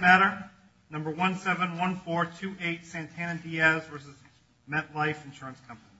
Matter No. 171428 Santana-Diaz v. MetLife Insurance Company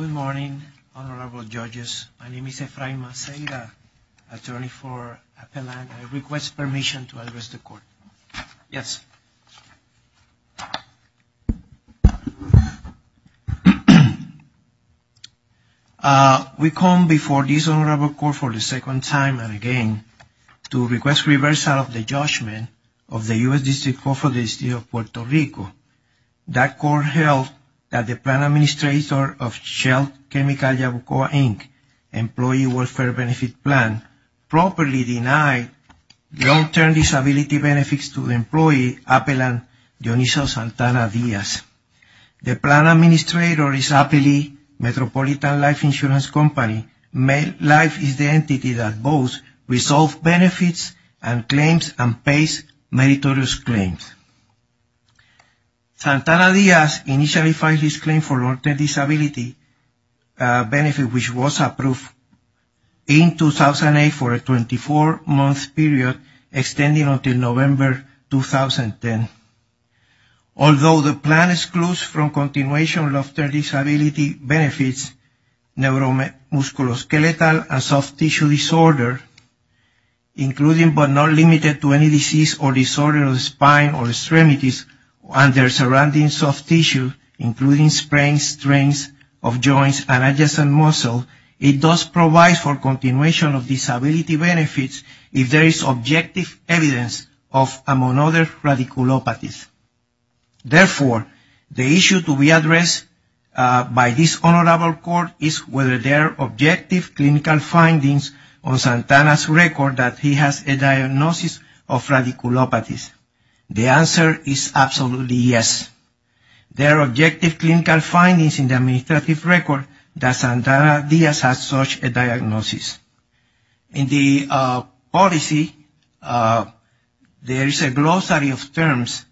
Good morning, honorable judges. My name is Efrain Maceira, attorney for Appellant. I request permission to address the court. Yes. We come before this honorable court for the second time and again to request reversal of the judgment of the U.S. District Court for the State of Puerto Rico. That court held that the plan administrator of Shell Chemical Yabucoa Inc. Employee Welfare Benefit Plan properly denied long-term disability benefits to the employee Appellant Dioniso Santana-Diaz. The plan administrator is Appellee Metropolitan Life Insurance Company. MetLife is the entity that both resolves benefits and claims and pays meritorious claims. Santana-Diaz initially filed his claim for long-term disability benefit which was approved in 2008 for a 24-month period extending until November 2010. Although the plan excludes from continuation long-term disability benefits neuromusculoskeletal and soft tissue disorder, including but not limited to any disease or disorder of the spine or extremities and their surrounding soft tissue, including sprains, strains of joints and adjacent muscles, it does provide for continuation of disability benefits if there is objective evidence among other radiculopathies. Therefore, the issue to be addressed by this honorable court is whether there are objective clinical findings on Santana's record that he has a diagnosis of radiculopathies. The answer is absolutely yes. There are objective clinical findings in the administrative record that Santana-Diaz has such a diagnosis. In the policy, there is a glossary of terms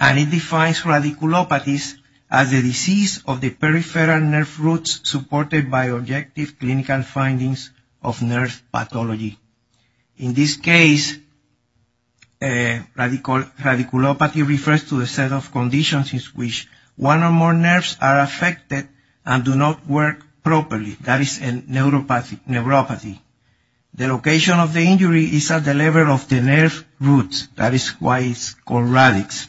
and it defines radiculopathies as the disease of the peripheral nerve roots supported by objective clinical findings of nerve pathology. In this case, radiculopathy refers to a set of conditions in which one or more nerves are affected and do not work properly. That is a neuropathy. The location of the injury is at the level of the nerve roots. That is why it is called radix.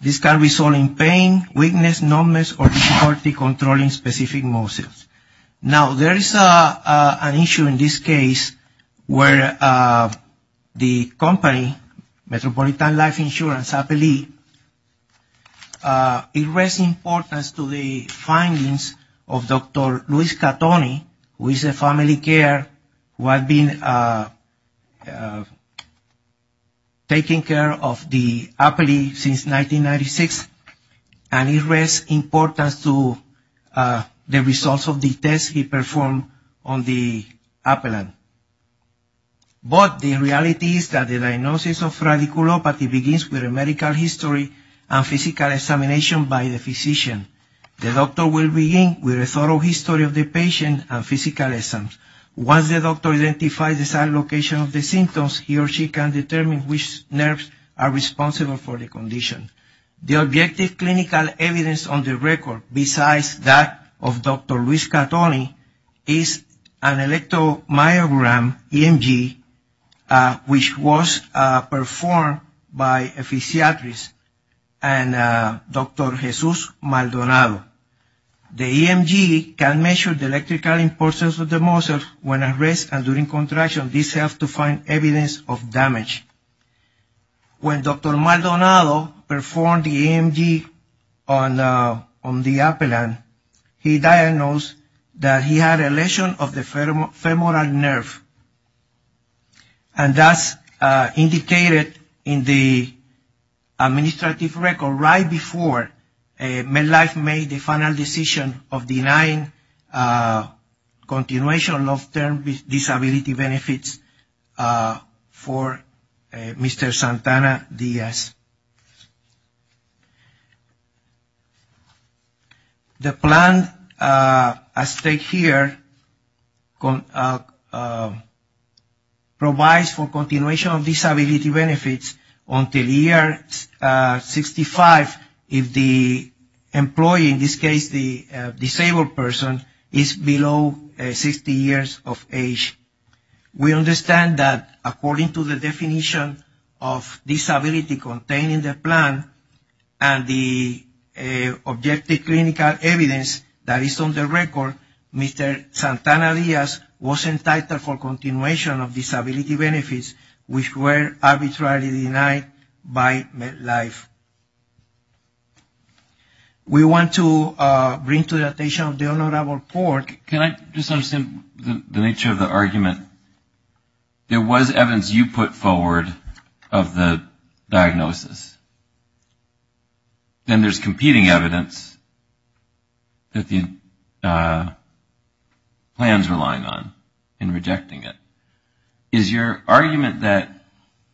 This can result in pain, weakness, numbness, or difficulty controlling specific muscles. Now, there is an issue in this case where the company, Metropolitan Life Insurance, I believe, addressed importance to the findings of Dr. Luis Catoni, who is a family care, who has been a patient of Santana-Diaz. He has been taking care of the epilepsy since 1996, and he addressed importance to the results of the tests he performed on the epilepsy. But the reality is that the diagnosis of radiculopathy begins with a medical history and physical examination by the physician. The doctor will begin with a thorough history of the patient and physical exam. Once the doctor identifies the site location of the symptoms, he or she can determine which nerves are responsible for the condition. The objective clinical evidence on the record, besides that of Dr. Luis Catoni, is an electromyogram, EMG, which was performed by a physiatrist and Dr. Jesus Maldonado. The EMG can measure the electrical importance of the muscles when at rest and during contraction. This helps to find evidence of damage. When Dr. Maldonado performed the EMG on the epilepsy, he diagnosed that he had a lesion of the femoral nerve. And that's indicated in the administrative record right before Medlife made the final decision of denying continuation of term disability benefits for Mr. Santana-Diaz. The plan as stated here provides for continuation of disability benefits until the year 65 if the employee, in this case the disabled person, is below 60 years of age. We understand that according to the definition of disability contained in the plan and the objective clinical evidence that is on the record, Mr. Santana-Diaz was entitled for continuation of disability benefits, which were arbitrarily denied by Medlife. We want to bring to the attention of the honorable court. Can I just understand the nature of the argument? There was evidence you put forward of the diagnosis. Then there's competing evidence that the plan's relying on and rejecting it. Is your argument that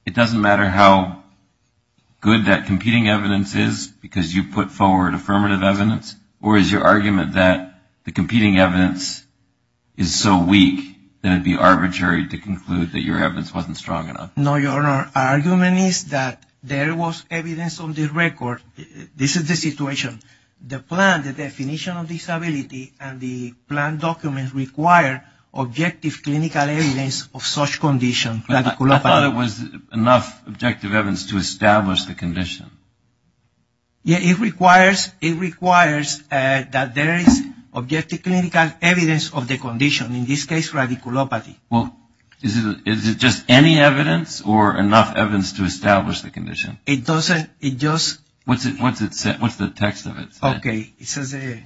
it doesn't matter how good that competing evidence is because you put forward affirmative evidence? Or is your argument that the competing evidence is so weak that it would be arbitrary to conclude that your evidence wasn't strong enough? No, Your Honor. Our argument is that there was evidence on the record. This is the situation. The plan, the definition of disability, and the plan document require objective clinical evidence of such condition. I thought it was enough objective evidence to establish the condition. It requires that there is objective clinical evidence of the condition, in this case radiculopathy. Well, is it just any evidence or enough evidence to establish the condition? It doesn't. It just. What's the text of it? Okay. It says. Okay.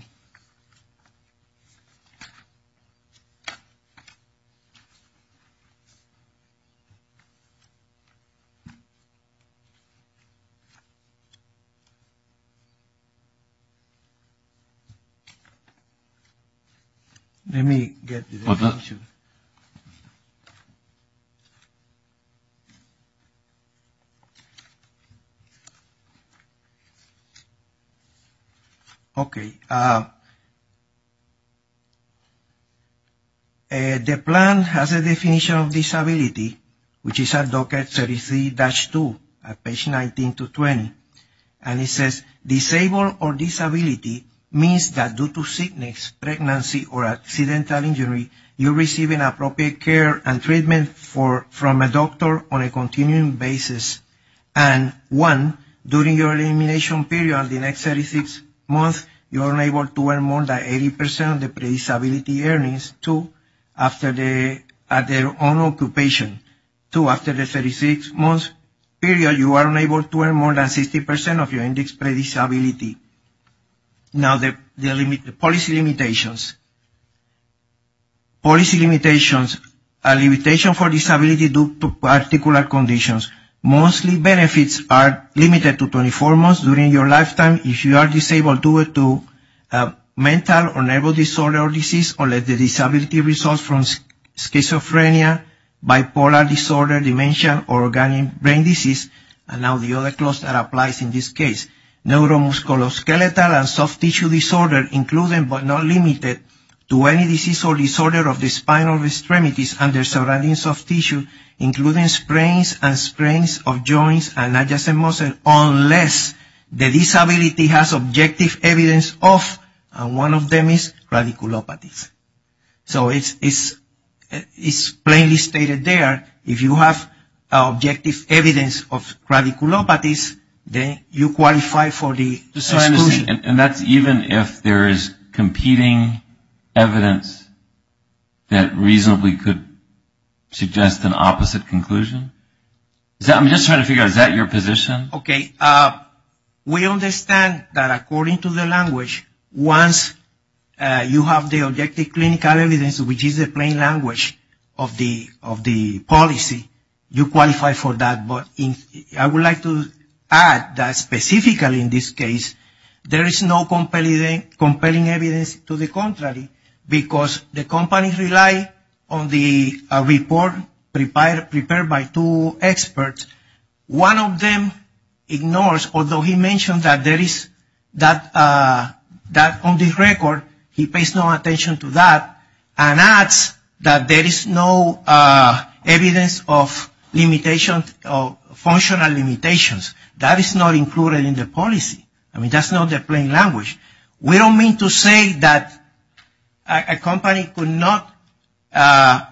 Let me get the definition. Definition. Okay. The plan has a definition of disability, which is at docket 33-2 at page 19 to 20. And it says. And it says. Now, the policy limitations. Policy limitations. A limitation for disability due to particular conditions. Mostly benefits are limited to 24 months during your lifetime if you are disabled due to mental or nervous disorder or disease, or let the disability result from schizophrenia, bipolar disorder, dementia, or organic brain disease. And now the other clause that applies in this case. Neuromusculoskeletal and soft tissue disorder, including but not limited to any disease or disorder of the spinal extremities and their surrounding soft tissue, including sprains and sprains of joints and adjacent muscles, unless the disability has objective evidence of, and one of them is, radiculopathy. So it's plainly stated there, if you have objective evidence of radiculopathies, then you qualify for the exclusion. And that's even if there is competing evidence that reasonably could suggest an opposite conclusion? I'm just trying to figure out, is that your position? Okay. We understand that according to the language, once you have the objective clinical evidence, which is the plain language of the policy, you qualify for that. But I would like to add that specifically in this case, there is no compelling evidence to the contrary, because the companies rely on the report prepared by two experts. One of them ignores, although he mentioned that on the record, he pays no attention to that, and adds that there is no evidence of limitations or functional limitations. That is not included in the policy. I mean, that's not the plain language. We don't mean to say that a company could not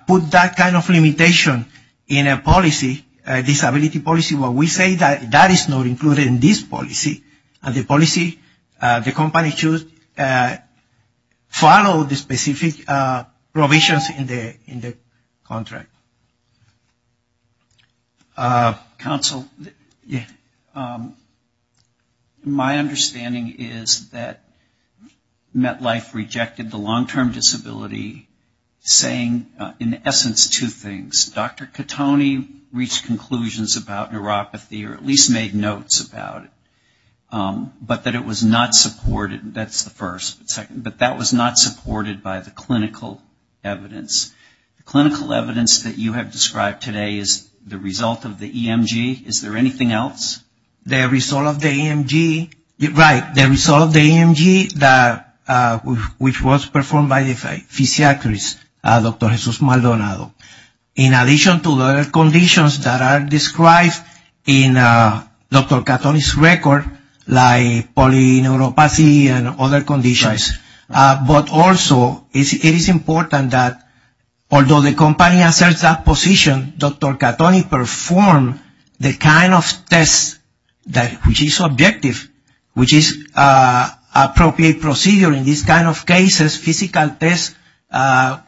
put that kind of limitation in a policy, a disability policy, but we say that that is not included in this policy. And the policy, the company should follow the specific provisions in the contract. Counsel, my understanding is that MetLife rejected the long-term disability saying, in essence, two things. Dr. Catone reached conclusions about neuropathy, or at least made notes about it, but that it was not supported. That's the first. But that was not supported by the clinical evidence. The clinical evidence that you have described today is the result of the EMG. Is there anything else? The result of the EMG, right, the result of the EMG, which was performed by the physiatrist, Dr. Jesus Maldonado. In addition to the conditions that are described in Dr. Catone's record, like polyneuropathy and other conditions, but also it is important that although the company asserts that position, Dr. Catone performed the kind of tests which is objective, which is appropriate procedure in these kind of cases, physical tests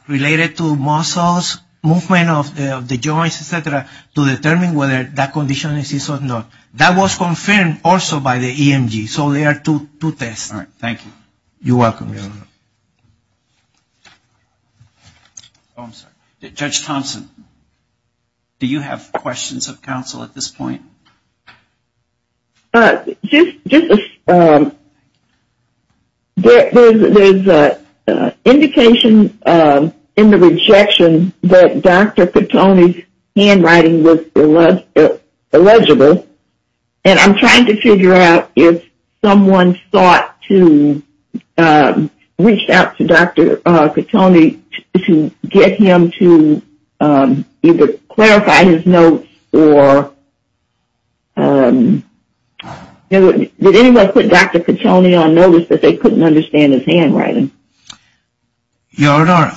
related to muscles, movement of the joints, et cetera, to determine whether that condition exists or not. That was confirmed also by the EMG. So there are two tests. All right, thank you. You're welcome. Judge Thompson, do you have questions of counsel at this point? There's indications in the rejection that Dr. Catone's handwriting was illegible, and I'm trying to figure out if someone sought to reach out to Dr. Catone to get him to either clarify his notes, or did anyone put Dr. Catone on notice that they couldn't understand his handwriting? Your Honor,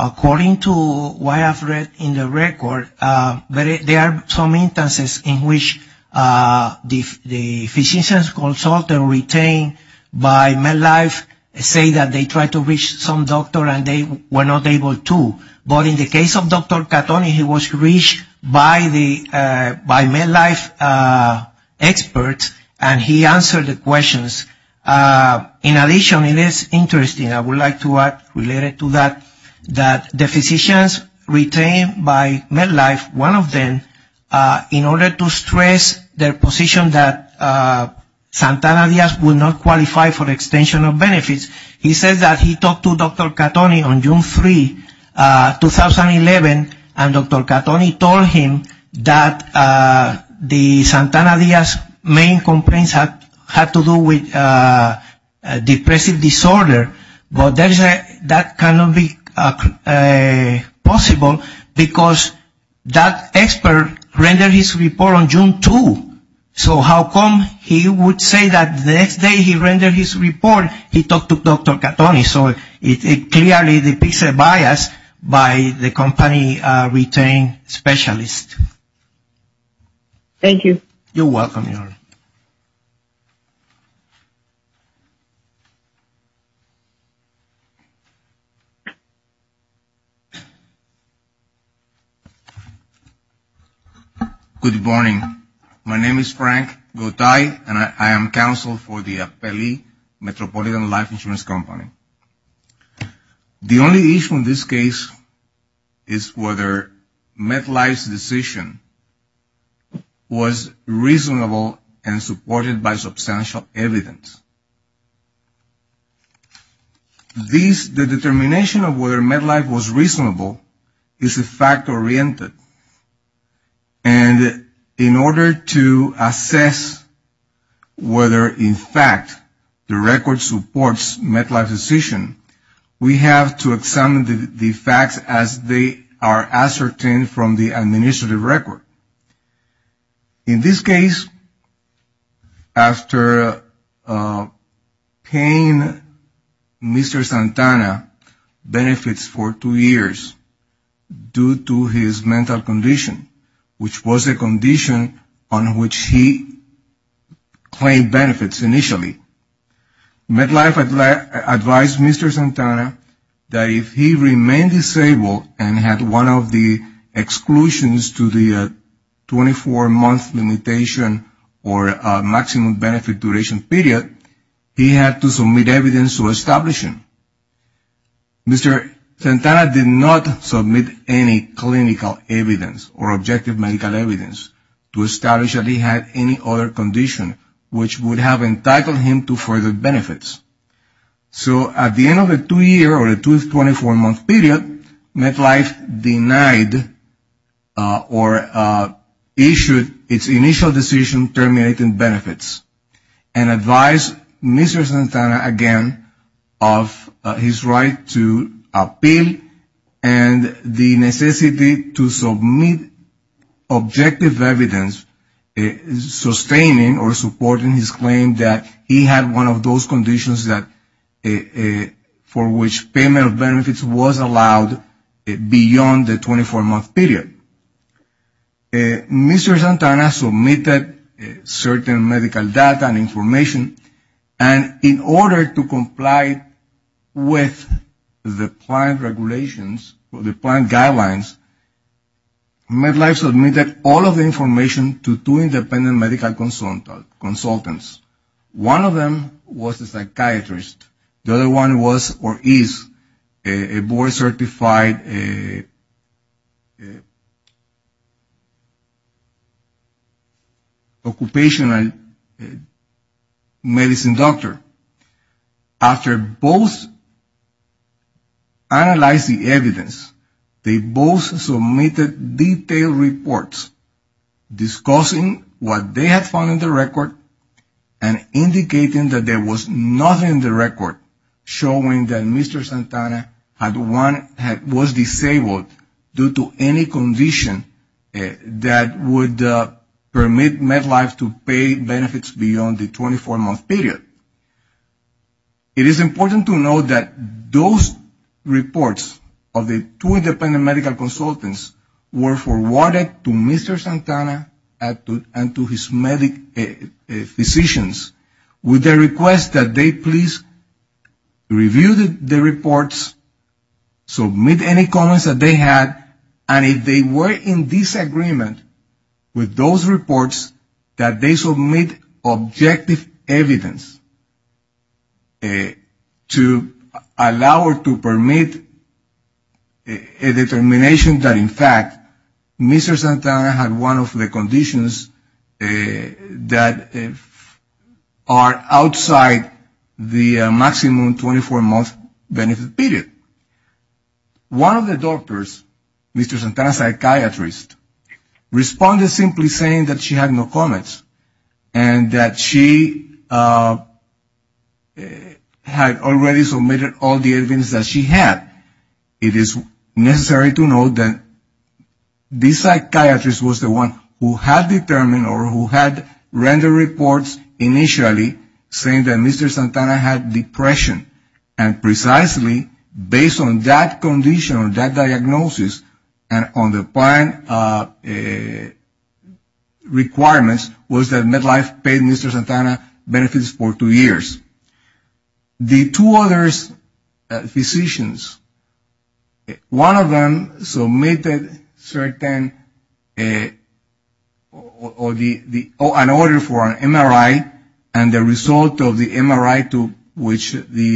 according to what I've read in the record, there are some instances in which the physician's consultant retained by MedLife say that they tried to reach some doctor and they were not able to. But in the case of Dr. Catone, he was reached by MedLife experts, and he answered the questions. In addition, it is interesting, I would like to add related to that, that the physicians retained by MedLife, one of them, in order to stress their position that Santana Diaz would not qualify for the extension of benefits, he says that he talked to Dr. Catone on June 3, 2011, and Dr. Catone told him that Santana Diaz's main complaints had to do with a depressive disorder, but that cannot be possible because that expert rendered his report on June 2. So how come he would say that the next day he rendered his report, he talked to Dr. Catone? So it clearly depicts a bias by the company retained specialist. Thank you. You're welcome, Your Honor. Good morning. My name is Frank Gotay, and I am counsel for the Apelli Metropolitan Life Insurance Company. The only issue in this case is whether MedLife's decision was reasonable and supported by substantial evidence. The determination of whether MedLife was reasonable is fact-oriented, and in order to assess whether, in fact, the record supports MedLife's decision, we have to examine the facts as they are ascertained from the administrative record. In this case, after paying Mr. Santana benefits for two years due to his mental condition, which was a condition on which he claimed benefits initially, MedLife advised Mr. Santana that if he remained disabled and had one of the exclusions to the 24-month limitation or maximum benefit duration period, he had to submit evidence to establish him. Mr. Santana did not submit any clinical evidence or objective medical evidence to establish that he had any other condition which would have entitled him to further benefits. So at the end of the two-year or the 24-month period, MedLife denied or issued its initial decision terminating benefits and advised Mr. Santana again of his right to appeal and the necessity to submit objective evidence sustaining or supporting his claim that he had one of those conditions for which payment of benefits was allowed beyond the 24-month period. Mr. Santana submitted certain medical data and information, and in order to comply with the planned regulations or the planned guidelines, MedLife submitted all of the information to two independent medical consultants. One of them was a psychiatrist. The other one was or is a board-certified occupational medicine doctor. After both analyzed the evidence, they both submitted detailed reports discussing what they had found in the record and indicating that there was nothing in the record showing that Mr. Santana was disabled due to any condition that would permit MedLife to pay benefits beyond the 24-month period. It is important to note that those reports of the two independent medical consultants were forwarded to Mr. Santana and to his physicians with the request that they please review the reports, submit any comments that they had, and if they were in disagreement with those reports, that they submit objective evidence to allow or to permit a determination that, in fact, Mr. Santana had one of the conditions that are outside the maximum 24-month benefit period. One of the doctors, Mr. Santana's psychiatrist, responded simply saying that she had no comments and that she had already submitted all the evidence that she had. It is necessary to note that this psychiatrist was the one who had determined or who had rendered reports initially saying that Mr. Santana had depression, and precisely based on that condition or that diagnosis and on the plan requirements, was that MedLife paid Mr. Santana benefits for two years. The two other physicians, one of them submitted certain or an order for an MRI and the result of the MRI to which the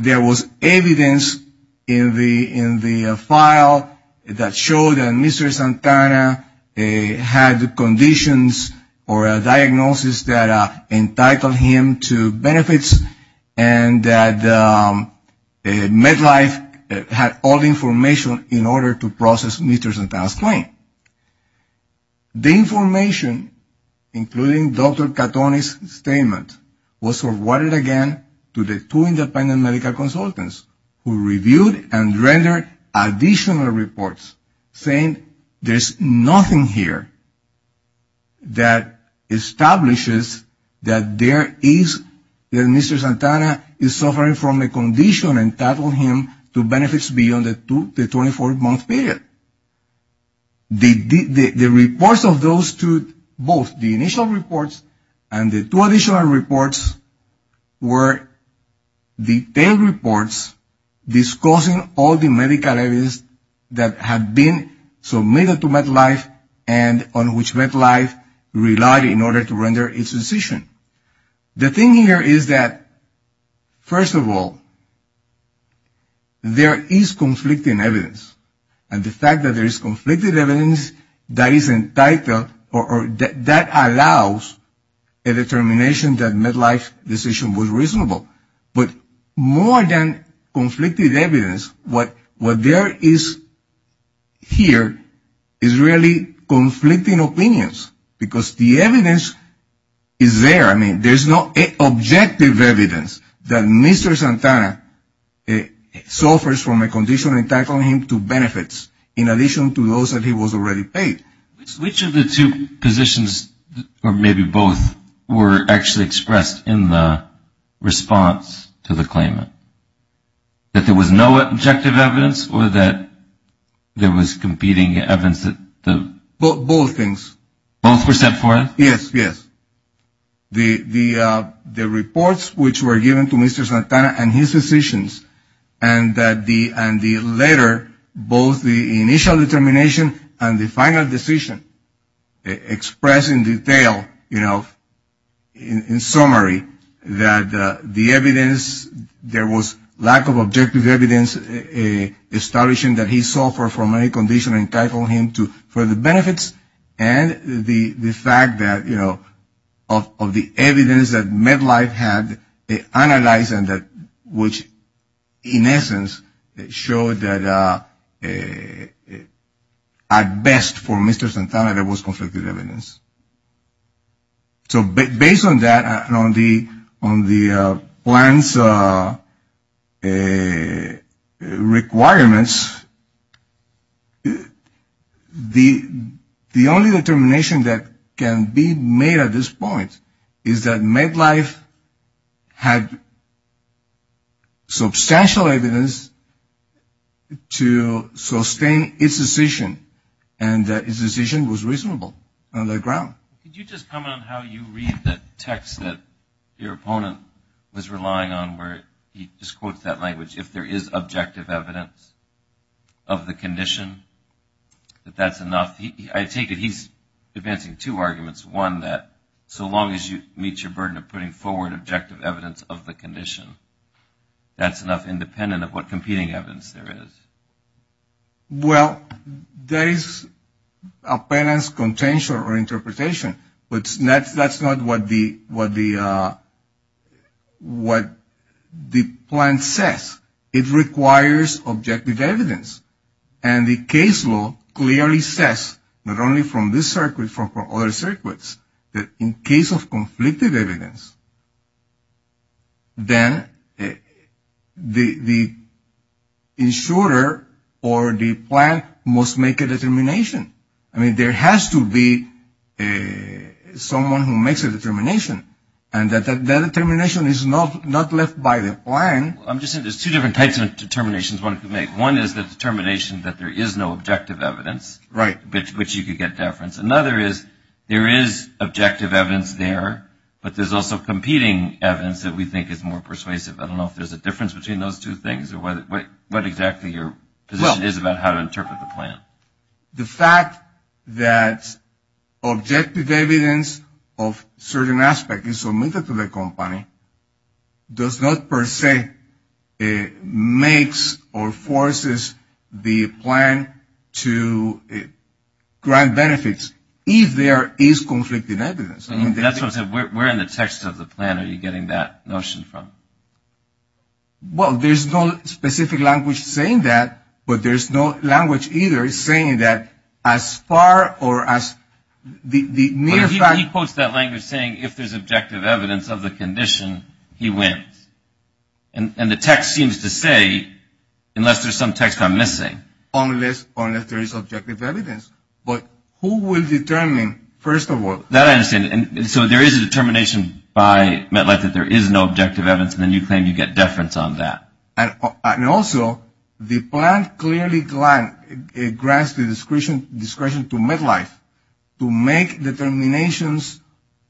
There was evidence in the file that showed that Mr. Santana had conditions or a diagnosis that entitled him to benefits and that MedLife had all the information in order to process Mr. Santana's claim. The information, including Dr. Cattoni's statement, was forwarded again to the two independent medical consultants who reviewed and rendered additional reports saying there's nothing here that establishes that there is, that Mr. Santana is suffering from a condition entitled him to benefits beyond the 24-month period. The reports of those two, both the initial reports and the two additional reports, were detailed reports discussing all the medical evidence that had been submitted to MedLife and on which MedLife relied in order to render its decision. The thing here is that, first of all, there is conflicting evidence. And the fact that there is conflicted evidence that is entitled or that allows a determination that MedLife's decision was reasonable. But more than conflicted evidence, what there is here is really conflicting opinions because the evidence is there. I mean, there's no objective evidence that Mr. Santana suffers from a condition entitled him to benefits, in addition to those that he was already paid. Which of the two positions, or maybe both, were actually expressed in the response to the claimant? That there was no objective evidence or that there was competing evidence? Both things. Both were set forth? Yes, yes. The reports which were given to Mr. Santana and his decisions and the letter, both the initial determination and the final decision expressed in detail, you know, in summary, that the evidence, there was lack of objective evidence establishing that he suffered from a condition entitled him to further benefits and the fact that, you know, of the evidence that MedLife had analyzed and which, in essence, showed that at best for Mr. Santana there was conflicted evidence. So based on that and on the plan's requirements, the only determination that can be made at this point is that MedLife had substantial evidence to sustain its decision and that its decision was reasonable on the ground. Could you just comment on how you read the text that your opponent was relying on where he just quotes that language, if there is objective evidence of the condition, that that's enough? I take it he's advancing two arguments. One, that so long as you meet your burden of putting forward objective evidence of the condition, that's enough independent of what competing evidence there is. Well, there is a penance contention or interpretation, but that's not what the plan says. It requires objective evidence. And the case law clearly says, not only from this circuit, but from other circuits, that in case of conflicted evidence, then the insurer or the plan must make a determination. I mean, there has to be someone who makes a determination, and that determination is not left by the plan. I'm just saying there's two different types of determinations one could make. One is the determination that there is no objective evidence. Right. Which you could get deference. Another is there is objective evidence there, but there's also competing evidence that we think is more persuasive. I don't know if there's a difference between those two things or what exactly your position is about how to interpret the plan. The fact that objective evidence of certain aspects is submitted to the company does not, per se, makes or forces the plan to grant benefits if there is conflicted evidence. That's what I'm saying. Where in the text of the plan are you getting that notion from? Well, there's no specific language saying that, but there's no language either saying that as far or as the near fact. He quotes that language saying if there's objective evidence of the condition, he wins. And the text seems to say, unless there's some text I'm missing. Unless there is objective evidence. But who will determine, first of all. That I understand. So there is a determination by MetLife that there is no objective evidence, and then you claim you get deference on that. And also, the plan clearly grants the discretion to MetLife to make determinations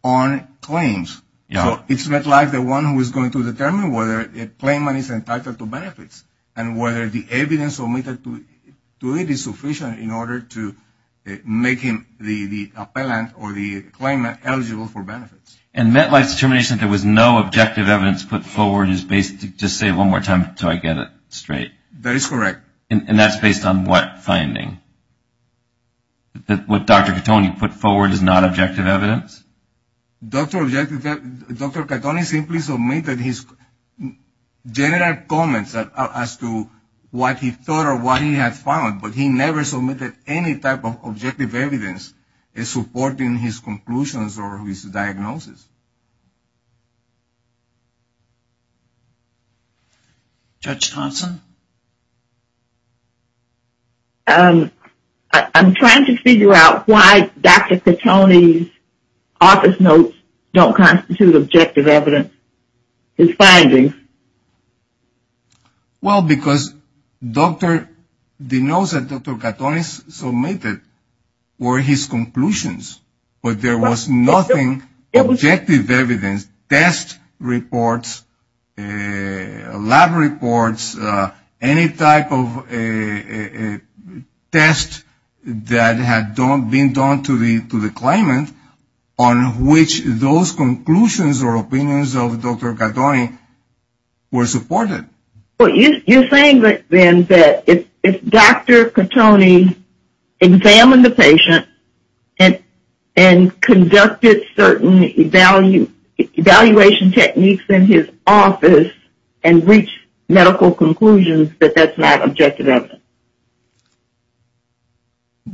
on claims. So it's MetLife, the one who is going to determine whether a claimant is entitled to benefits and whether the evidence submitted to it is sufficient in order to make him the appellant or the claimant eligible for benefits. And MetLife's determination that there was no objective evidence put forward is based, just say it one more time until I get it straight. That is correct. And that's based on what finding? That what Dr. Catone put forward is not objective evidence? Dr. Catone simply submitted his general comments as to what he thought or what he had found, but he never submitted any type of objective evidence supporting his conclusions or his diagnosis. Judge Thompson? I'm trying to figure out why Dr. Catone's office notes don't constitute objective evidence, his findings. Well, because the notes that Dr. Catone submitted were his conclusions, but there was nothing objective evidence. His test reports, lab reports, any type of test that had been done to the claimant on which those conclusions or opinions of Dr. Catone were supported. Well, you're saying then that if Dr. Catone examined the patient and conducted certain evaluation techniques in his office and reached medical conclusions, that that's not objective evidence?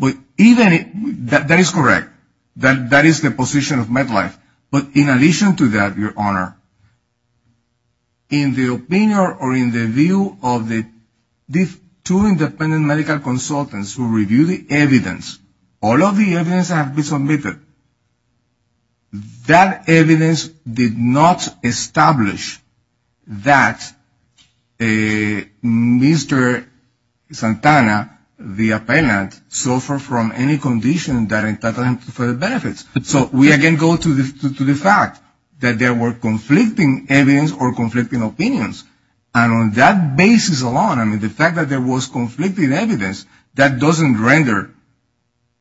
That is correct. That is the position of MetLife. But in addition to that, Your Honor, in the opinion or in the view of the two independent medical consultants who reviewed the evidence, all of the evidence that had been submitted, that evidence did not establish that Mr. Santana, the appellant, suffered from any condition that entitled him to further benefits. So we again go to the fact that there were conflicting evidence or conflicting opinions. And on that basis alone, I mean, the fact that there was conflicting evidence, that doesn't render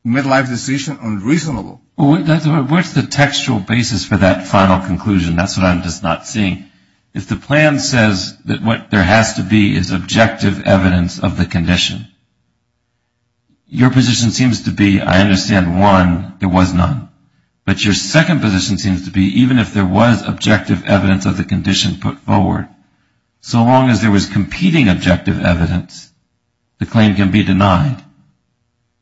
MetLife's decision unreasonable. What's the textual basis for that final conclusion? That's what I'm just not seeing. If the plan says that what there has to be is objective evidence of the condition, your position seems to be, I understand, one, there was none. But your second position seems to be even if there was objective evidence of the condition put forward, so long as there was competing objective evidence, the claim can be denied.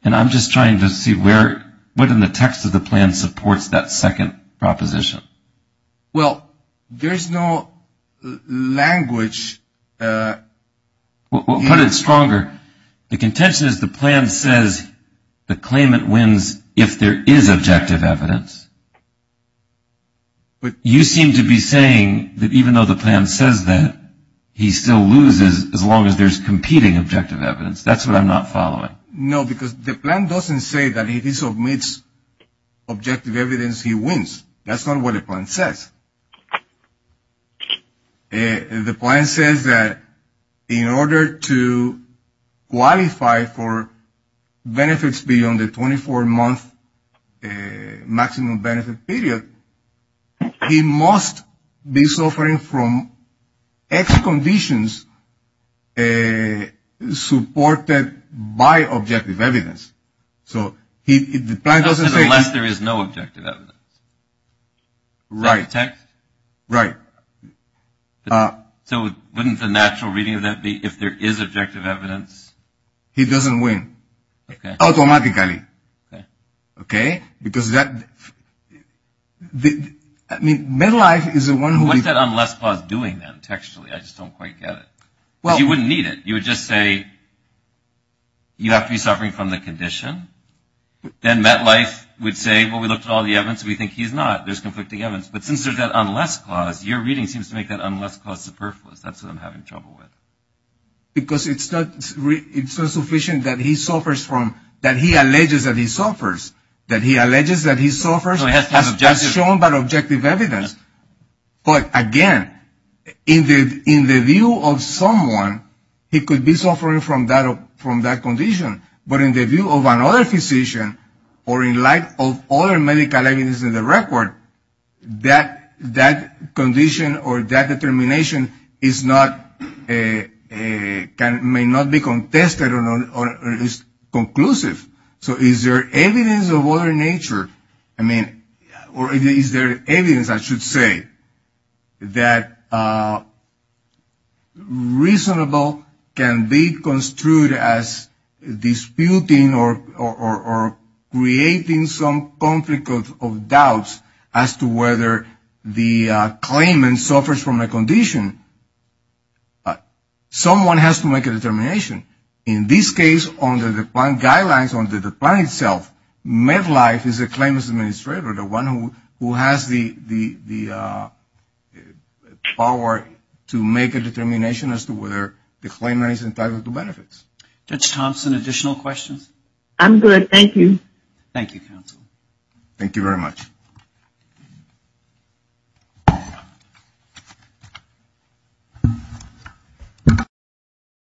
And I'm just trying to see what in the text of the plan supports that second proposition. Well, there's no language. We'll put it stronger. The contention is the plan says the claimant wins if there is objective evidence. But you seem to be saying that even though the plan says that, he still loses as long as there's competing objective evidence. That's what I'm not following. No, because the plan doesn't say that if he submits objective evidence, he wins. That's not what the plan says. The plan says that in order to qualify for benefits beyond the 24-month maximum benefit period, he must be suffering from X conditions supported by objective evidence. Unless there is no objective evidence. Right. That's the text? Right. So wouldn't the natural reading of that be if there is objective evidence? He doesn't win. Okay. Automatically. Okay. Okay? Because that, I mean, Medlife is the one who... What's that unless clause doing then, textually? I just don't quite get it. Well... Because you wouldn't need it. You would just say you have to be suffering from the condition. Then Medlife would say, well, we looked at all the evidence and we think he's not. There's conflicting evidence. But since there's that unless clause, your reading seems to make that unless clause superfluous. That's what I'm having trouble with. Because it's not sufficient that he suffers from, that he alleges that he suffers. That he alleges that he suffers. No, he has to have objective... That's shown by objective evidence. But, again, in the view of someone, he could be suffering from that condition. But in the view of another physician or in light of other medical evidence in the record, that condition or that determination may not be contested or is conclusive. So is there evidence of other nature? I mean, or is there evidence, I should say, that reasonable can be construed as disputing or creating some conflict of doubts as to whether the claimant suffers from a condition. Someone has to make a determination. In this case, under the plan guidelines, under the plan itself, Medlife is the claimant's administrator, the one who has the power to make a determination as to whether the claimant is entitled to benefits. Judge Thompson, additional questions? I'm good. Thank you. Thank you, counsel. Thank you very much.